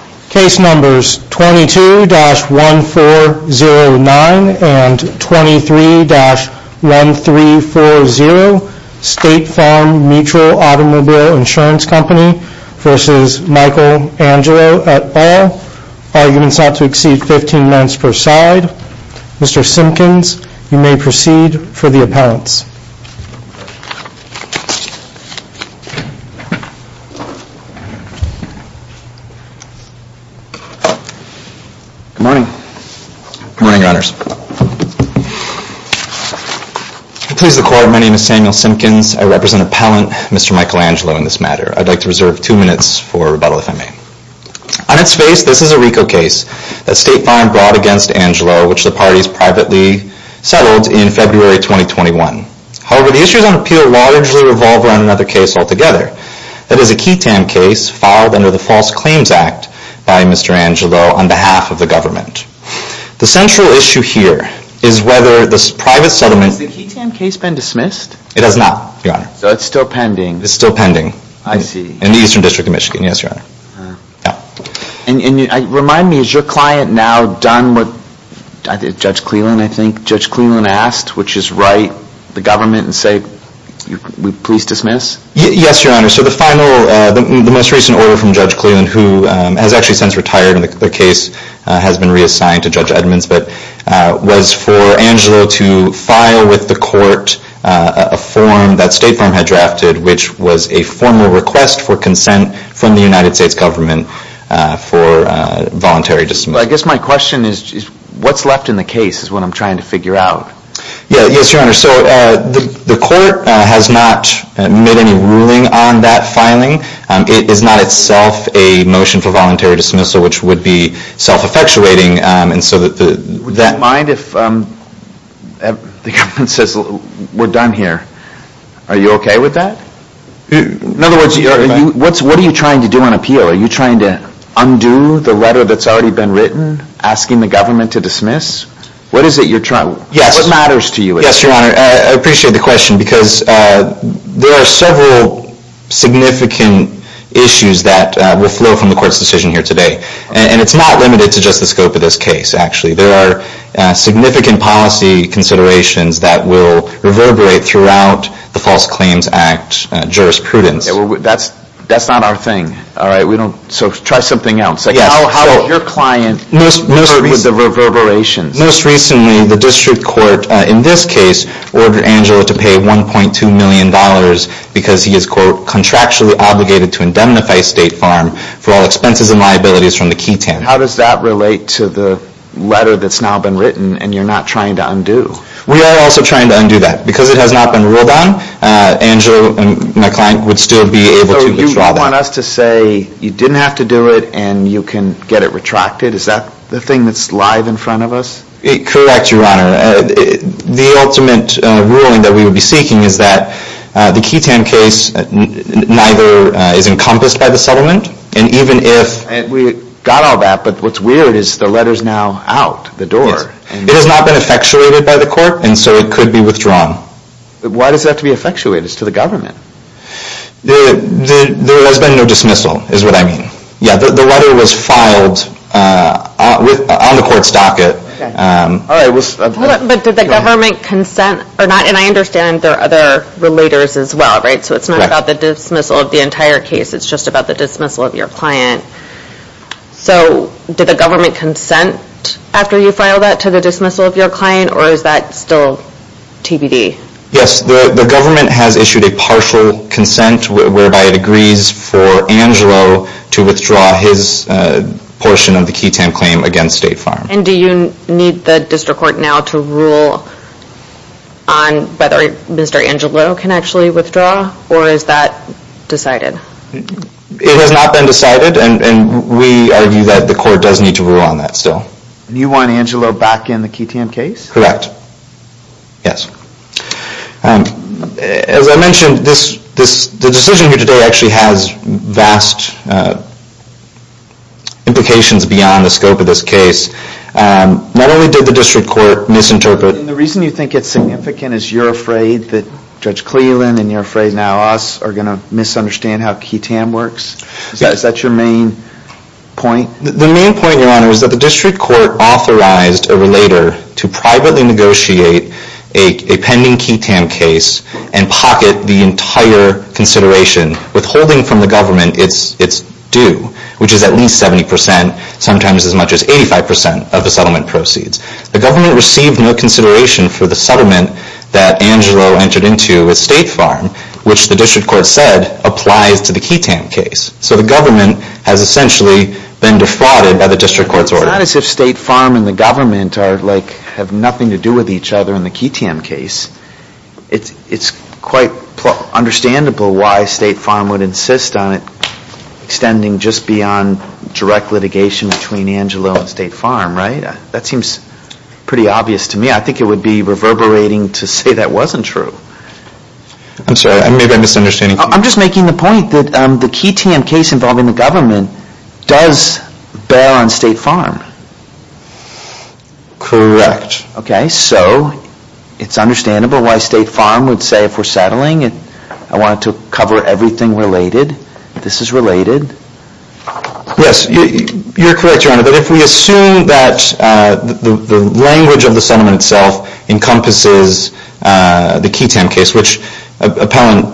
at all. Arguments not to exceed 15 minutes per side. Mr. Simpkins, you may proceed for the appellants. Mr. Simpkins, you may proceed for the appellants. Good morning. Good morning, your honors. To please the court, my name is Samuel Simpkins. I represent appellant Mr. Michael Angelo in this matter. I'd like to reserve two minutes for rebuttal, if I may. On its face, this is a RICO case that State Farm brought against Angelo, which the parties privately settled in February 2021. However, the issues on appeal largely revolve around another case altogether. That is a QTAM case filed under the False Claims Act by Mr. Angelo on behalf of the government. The central issue here is whether the private settlement... Has the QTAM case been dismissed? It has not, your honor. So it's still pending? It's still pending. I see. In the Eastern District of Michigan, yes, your honor. And remind me, is your client now done with Judge Cleland, I think? Judge Cleland asked, which is right, the government, and say, please dismiss? Yes, your honor. So the final, the most recent order from Judge Cleland, who has actually since retired and the case has been reassigned to Judge Edmonds, but was for Angelo to file with the court a form that State Farm had drafted, which was a formal request for consent from the United States government for voluntary dismissal. I guess my question is, what's left in the case is what I'm trying to figure out. Yes, your honor. So the court has not made any ruling on that filing. It is not itself a motion for voluntary dismissal, which would be self-effectuating. Would you mind if the government says, we're done here? Are you okay with that? In other words, what are you trying to do on appeal? Are you trying to undo the letter that's already been written asking the government to dismiss? What is it you're trying? Yes. What matters to you? Yes, your honor. I appreciate the question because there are several significant issues that will flow from the court's decision here today. And it's not limited to just the scope of this case, actually. There are significant policy considerations that will reverberate throughout the False Claims Act jurisprudence. That's not our thing. All right. So try something else. How has your client referred with the reverberations? Most recently, the district court, in this case, ordered Angela to pay $1.2 million because he is, quote, contractually obligated to indemnify State Farm for all expenses and liabilities from the key ten. How does that relate to the letter that's now been written and you're not trying to undo? We are also trying to undo that. Because it has not been ruled on, Angela and my client would still be able to withdraw that. You don't want us to say you didn't have to do it and you can get it retracted? Is that the thing that's live in front of us? Correct, your honor. The ultimate ruling that we would be seeking is that the key ten case neither is encompassed by the settlement. And even if we got all that, but what's weird is the letter's now out the door. It has not been effectuated by the court, and so it could be withdrawn. Why does it have to be effectuated? It's to the government. There has been no dismissal is what I mean. Yeah, the letter was filed on the court's docket. But did the government consent or not? And I understand there are other relators as well, right? So it's not about the dismissal of the entire case. It's just about the dismissal of your client. So did the government consent after you filed that to the dismissal of your client or is that still TBD? Yes, the government has issued a partial consent whereby it agrees for Angelo to withdraw his portion of the key ten claim against State Farm. And do you need the district court now to rule on whether Mr. Angelo can actually withdraw or is that decided? It has not been decided and we argue that the court does need to rule on that still. And you want Angelo back in the key ten case? Correct, yes. As I mentioned, the decision here today actually has vast implications beyond the scope of this case. Not only did the district court misinterpret. And the reason you think it's significant is you're afraid that Judge Cleland and you're afraid now us are going to misunderstand how key ten works? Is that your main point? The main point, Your Honor, is that the district court authorized a relator to privately negotiate a pending key ten case and pocket the entire consideration, withholding from the government its due, which is at least 70%, sometimes as much as 85% of the settlement proceeds. The government received no consideration for the settlement that Angelo entered into with State Farm, which the district court said applies to the key ten case. So the government has essentially been defrauded by the district court's order. It's not as if State Farm and the government have nothing to do with each other in the key ten case. It's quite understandable why State Farm would insist on extending just beyond direct litigation between Angelo and State Farm, right? That seems pretty obvious to me. I think it would be reverberating to say that wasn't true. I'm sorry, maybe I'm misunderstanding. I'm just making the point that the key ten case involving the government does bear on State Farm. Correct. Okay, so it's understandable why State Farm would say, if we're settling, I want to cover everything related. This is related. Yes, you're correct, Your Honor. But if we assume that the language of the settlement itself encompasses the key ten case, which appellant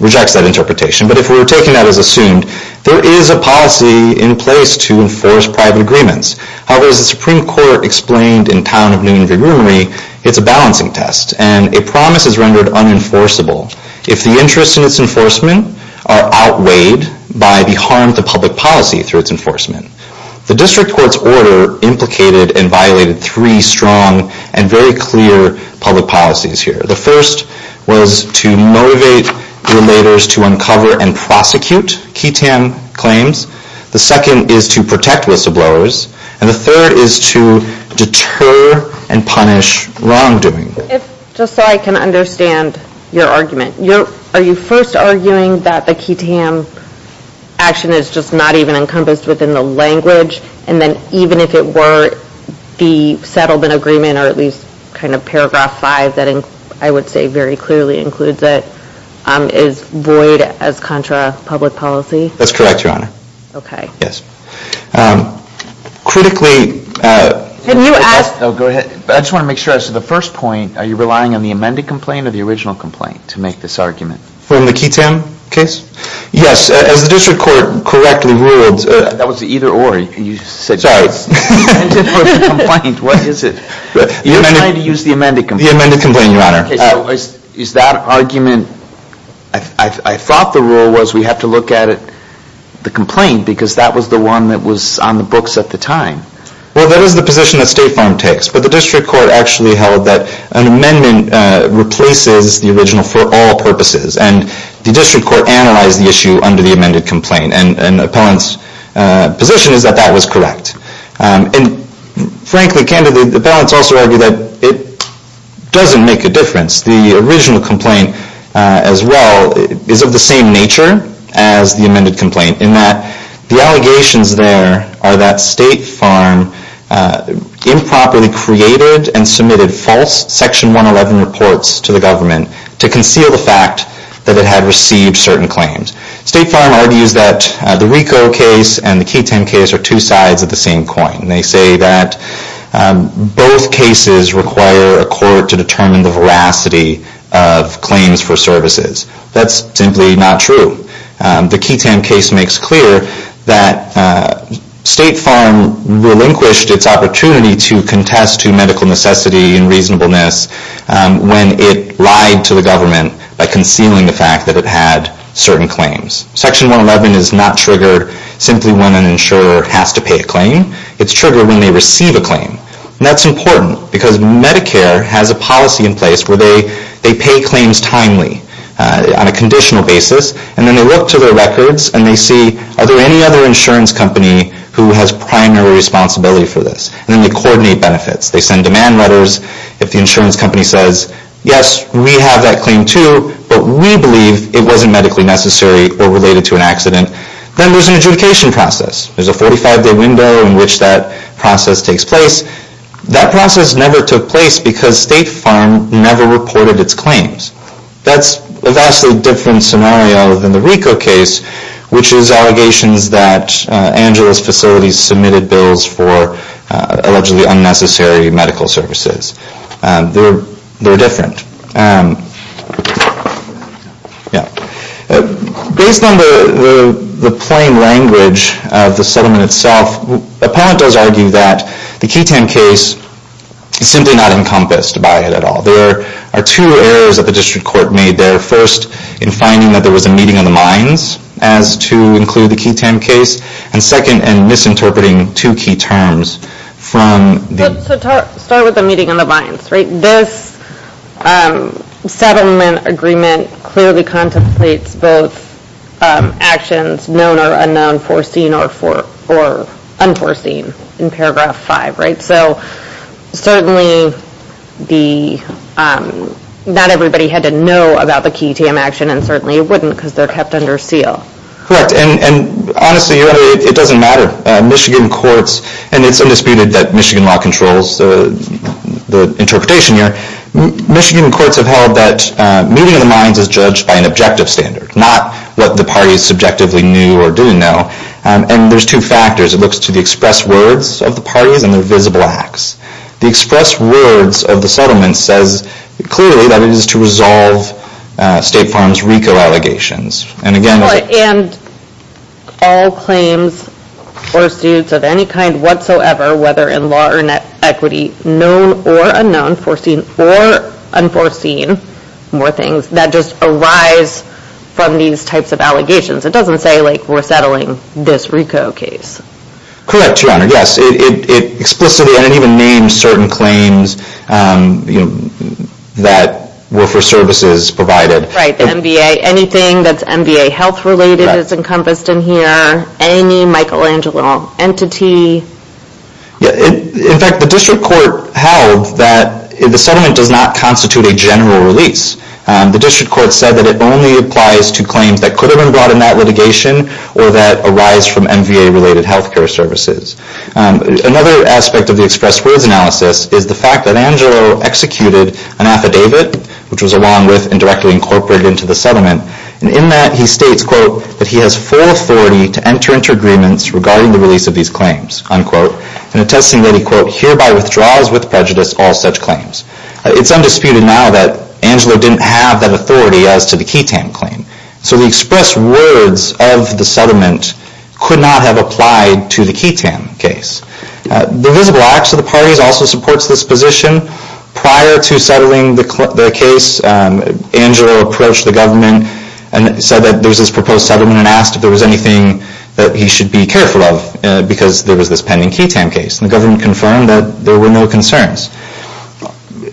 rejects that interpretation, but if we're taking that as assumed, there is a policy in place to enforce private agreements. However, as the Supreme Court explained in Town of Newnan v. Roonery, it's a balancing test, and a promise is rendered unenforceable if the interests in its enforcement are outweighed by the harm to public policy through its enforcement. The district court's order implicated and violated three strong and very clear public policies here. The first was to motivate theulators to uncover and prosecute key ten claims. The second is to protect whistleblowers. And the third is to deter and punish wrongdoing. Just so I can understand your argument, are you first arguing that the key ten action is just not even encompassed within the language, and then even if it were the settlement agreement or at least kind of paragraph five, that I would say very clearly includes it, is void as contra-public policy? That's correct, Your Honor. Okay. Yes. Critically- Can you ask- Oh, go ahead. I just want to make sure. So the first point, are you relying on the amended complaint or the original complaint to make this argument? From the key ten case? Yes. As the district court correctly ruled- That was the either or. You said- Sorry. The amended or the complaint. What is it? You're trying to use the amended complaint. The amended complaint, Your Honor. Is that argument- I thought the rule was we have to look at it, the complaint, because that was the one that was on the books at the time. Well, that is the position that State Farm takes, but the district court actually held that an amendment replaces the original for all purposes, and the district court analyzed the issue under the amended complaint, and the appellant's position is that that was correct. And frankly, candidly, the appellants also argue that it doesn't make a difference. The original complaint, as well, is of the same nature as the amended complaint in that the allegations there are that State Farm improperly created and submitted false Section 111 reports to the government to conceal the fact that it had received certain claims. State Farm argues that the RICO case and the key ten case are two sides of the same coin. They say that both cases require a court to determine the veracity of claims for services. That's simply not true. The key ten case makes clear that State Farm relinquished its opportunity to contest to medical necessity and reasonableness when it lied to the government by concealing the fact that it had certain claims. Section 111 is not triggered simply when an insurer has to pay a claim. It's triggered when they receive a claim, and that's important because Medicare has a policy in place where they pay claims timely on a conditional basis, and then they look to their records and they see, are there any other insurance company who has primary responsibility for this? And then they coordinate benefits. They send demand letters. If the insurance company says, yes, we have that claim too, but we believe it wasn't medically necessary or related to an accident, then there's an adjudication process. There's a 45-day window in which that process takes place. That process never took place because State Farm never reported its claims. That's a vastly different scenario than the RICO case, which is allegations that Angeles facilities submitted bills for allegedly unnecessary medical services. They're different. Based on the plain language of the settlement itself, Appellant does argue that the key ten case is simply not encompassed by it at all. There are two errors that the district court made there. First, in finding that there was a meeting of the minds as to include the key ten case, and second, in misinterpreting two key terms. Start with the meeting of the minds. This settlement agreement clearly contemplates both actions, known or unknown, foreseen or unforeseen in paragraph five. Certainly not everybody had to know about the key ten action, and certainly it wouldn't because they're kept under seal. Honestly, it doesn't matter. Michigan courts, and it's undisputed that Michigan law controls the interpretation here, Michigan courts have held that meeting of the minds is judged by an objective standard, not what the parties subjectively knew or do know. There's two factors. It looks to the express words of the parties and their visible acts. The express words of the settlement says clearly that it is to resolve State Farm's RICO allegations, and again- And all claims or suits of any kind whatsoever, whether in law or net equity, known or unknown, foreseen or unforeseen, more things, that just arise from these types of allegations. It doesn't say, like, we're settling this RICO case. Correct, Your Honor. Yes, it explicitly, and it even names certain claims that were for services provided. Right, the MBA, anything that's MBA health-related is encompassed in here, any Michelangelo entity. In fact, the district court held that the settlement does not constitute a general release. The district court said that it only applies to claims that could have been brought in that litigation or that arise from MBA-related health care services. Another aspect of the express words analysis is the fact that Angelo executed an affidavit, which was along with and directly incorporated into the settlement, and in that he states, quote, that he has full authority to enter into agreements regarding the release of these claims, unquote, and attesting that he, quote, hereby withdraws with prejudice all such claims. It's undisputed now that Angelo didn't have that authority as to the KETAM claim. So the express words of the settlement could not have applied to the KETAM case. The Visible Acts of the Parties also supports this position. Prior to settling the case, Angelo approached the government and said that there was this proposed settlement and asked if there was anything that he should be careful of because there was this pending KETAM case, and the government confirmed that there were no concerns.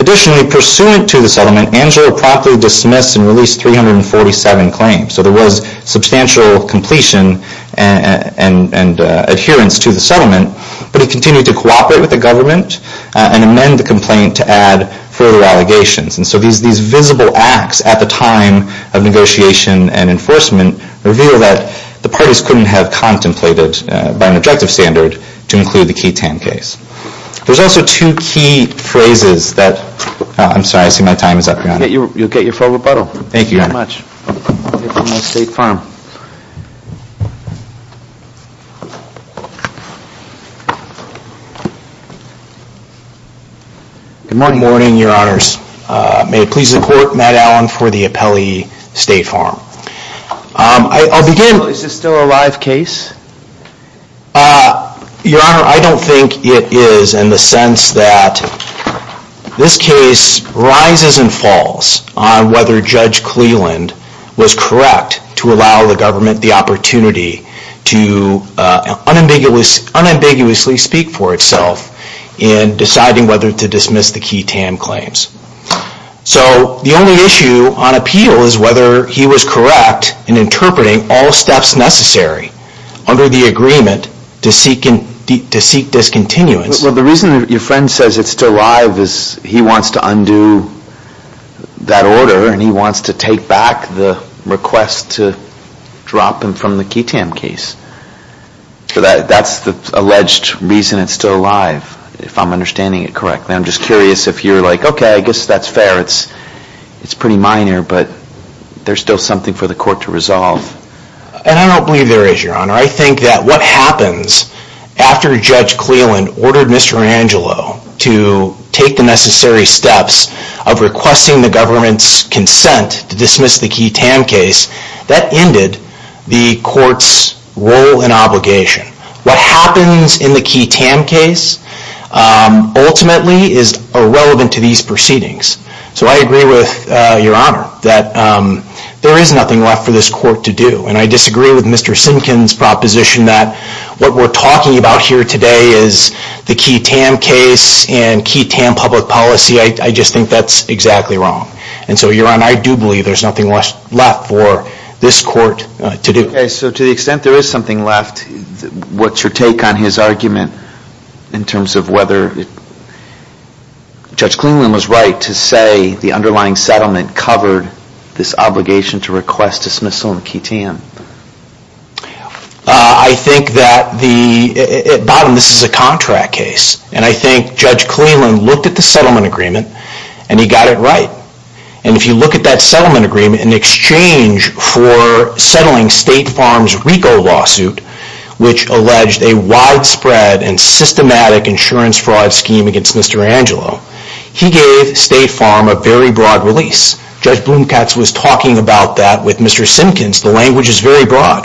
Additionally, pursuant to the settlement, Angelo promptly dismissed and released 347 claims. So there was substantial completion and adherence to the settlement, but he continued to cooperate with the government and amend the complaint to add further allegations. And so these visible acts at the time of negotiation and enforcement reveal that the parties couldn't have contemplated by an objective standard to include the KETAM case. There's also two key phrases that... I'm sorry, I see my time is up, Your Honor. You'll get your full rebuttal. Thank you, Your Honor. Good morning, Your Honors. May it please the Court, Matt Allen for the Appellee State Farm. I'll begin... Is this still a live case? Your Honor, I don't think it is in the sense that this case rises and falls on whether Judge Cleland was correct to allow the government the opportunity to unambiguously speak for itself in deciding whether to dismiss the KETAM claims. So the only issue on appeal is whether he was correct in interpreting all steps necessary under the agreement to seek discontinuance. Well, the reason your friend says it's still live is he wants to undo that order and he wants to take back the request to drop him from the KETAM case. That's the alleged reason it's still live, if I'm understanding it correctly. I'm just curious if you're like, okay, I guess that's fair, it's pretty minor, but there's still something for the Court to resolve. And I don't believe there is, Your Honor. I think that what happens after Judge Cleland ordered Mr. Angelo to take the necessary steps of requesting the government's consent to dismiss the KETAM case, that ended the Court's role and obligation. What happens in the KETAM case ultimately is irrelevant to these proceedings. So I agree with Your Honor that there is nothing left for this Court to do. And I disagree with Mr. Simpkin's proposition that what we're talking about here today is the KETAM case and KETAM public policy. I just think that's exactly wrong. And so, Your Honor, I do believe there's nothing left for this Court to do. Okay, so to the extent there is something left, what's your take on his argument in terms of whether Judge Cleland was right to say the underlying settlement covered this obligation to request dismissal in KETAM? I think that the... At bottom, this is a contract case. And I think Judge Cleland looked at the settlement agreement and he got it right. And if you look at that settlement agreement, in exchange for settling State Farms' RICO lawsuit, which alleged a widespread and systematic insurance fraud scheme against Mr. Angelo, he gave State Farm a very broad release. Judge Blomkatz was talking about that with Mr. Simpkins. The language is very broad.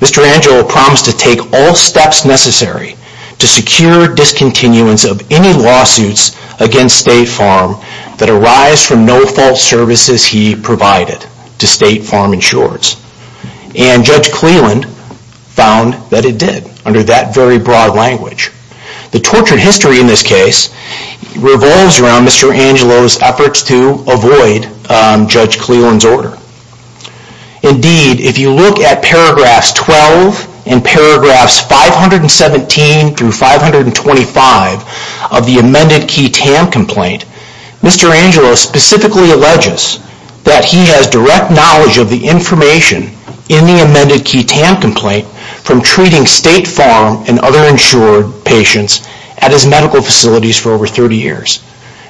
Mr. Angelo promised to take all steps necessary to secure discontinuance of any lawsuits against State Farm that arise from no-fault services he provided to State Farm insurers. And Judge Cleland found that it did, under that very broad language. The tortured history in this case revolves around Mr. Angelo's efforts to avoid Judge Cleland's order. Indeed, if you look at paragraphs 12 and paragraphs 517 through 525 of the amended KETAM complaint, Mr. Angelo specifically alleges that he has direct knowledge of the information in the amended KETAM complaint from treating State Farm and other insured patients at his medical facilities for over 30 years.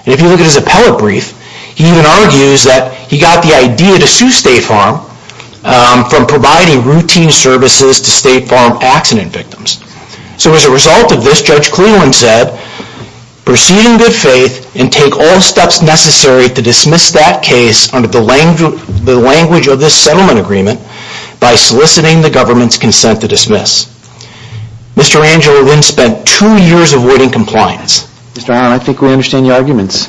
And if you look at his appellate brief, he even argues that he got the idea to sue State Farm from providing routine services to State Farm accident victims. So as a result of this, Judge Cleland said, proceed in good faith and take all steps necessary to dismiss that case under the language of this settlement agreement by soliciting the government's consent to dismiss. Mr. Angelo then spent two years avoiding compliance. Mr. Allen, I think we understand your arguments.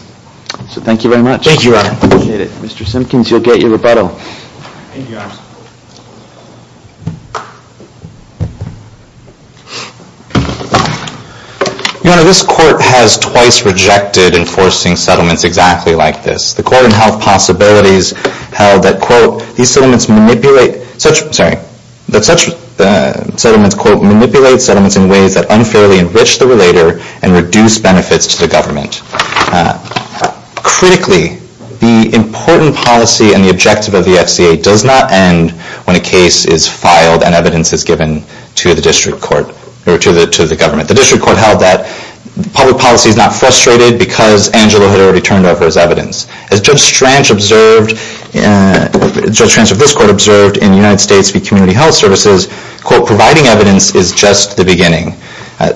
So thank you very much. Thank you, Your Honor. I appreciate it. Mr. Simpkins, you'll get your rebuttal. Thank you, Your Honor. Your Honor, this Court has twice rejected enforcing settlements exactly like this. The Court on Health Possibilities held that, quote, these settlements manipulate, sorry, that such settlements, quote, manipulate settlements in ways that unfairly enrich the relator and reduce benefits to the government. Critically, the important policy and the objective of the FCA does not end when a case is filed and evidence is given to the district court, or to the government. The district court held that public policy is not frustrated because Angelo had already turned over his evidence. As Judge Strange observed, Judge Strange of this Court observed in United States v. Community Health Services, quote, providing evidence is just the beginning.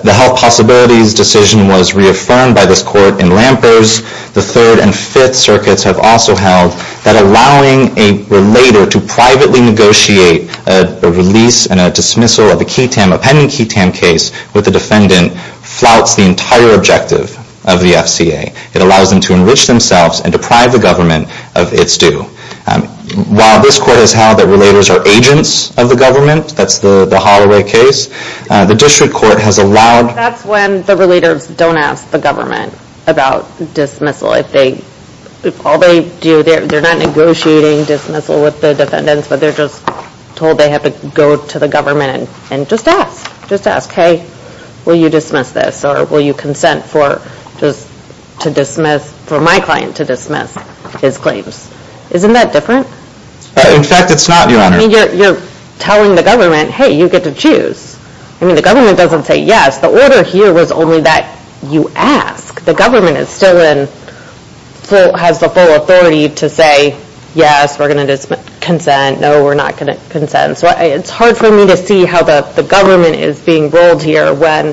The health possibilities decision was reaffirmed by this Court in Lampers. The third and fifth circuits have also held that allowing a relator to privately negotiate a release and a dismissal of a KETAM, a pending KETAM case with the defendant flouts the entire objective of the FCA. It allows them to enrich themselves and deprive the government of its due. While this Court has held that relators are agents of the government, that's the Holloway case, the district court has allowed... That's when the relators don't ask the government about dismissal. If all they do, they're not negotiating dismissal with the defendants, but they're just told they have to go to the government and just ask. Just ask, hey, will you dismiss this? Or will you consent for just to dismiss, for my client to dismiss his claims? Isn't that different? In fact, it's not, Your Honor. You're telling the government, hey, you get to choose. I mean, the government doesn't say yes. The order here was only that you ask. The government is still in... has the full authority to say, yes, we're going to consent, no, we're not going to consent. So it's hard for me to see how the government is being rolled here when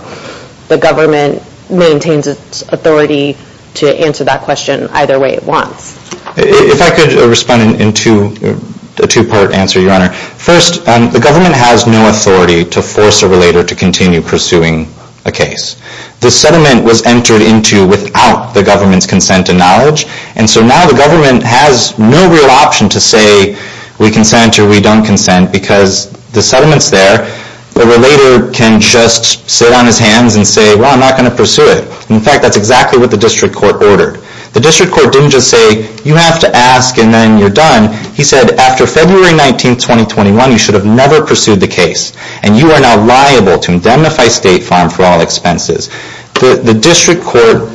the government maintains its authority to answer that question either way it wants. If I could respond in a two-part answer, Your Honor. First, the government has no authority to force a relator to continue pursuing a case. The settlement was entered into without the government's consent and knowledge, and so now the government has no real option to say we consent or we don't consent because the settlement's there. The relator can just sit on his hands and say, well, I'm not going to pursue it. In fact, that's exactly what the district court ordered. The district court didn't just say, you have to ask and then you're done. He said, after February 19, 2021, you should have never pursued the case, and you are now liable to indemnify State Farm for all expenses. The district court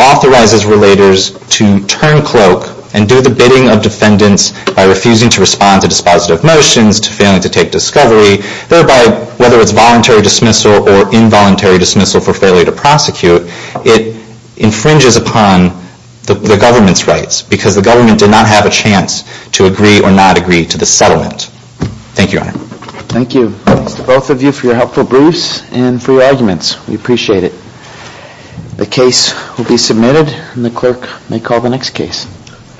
authorizes relators to turn cloak and do the bidding of defendants by refusing to respond to dispositive motions, refusing to take discovery, thereby, whether it's voluntary dismissal or involuntary dismissal for failure to prosecute, it infringes upon the government's rights because the government did not have a chance to agree or not agree to the settlement. Thank you, Your Honor. Thank you. Thanks to both of you for your helpful briefs and for your arguments. We appreciate it. The case will be submitted, and the clerk may call the next case.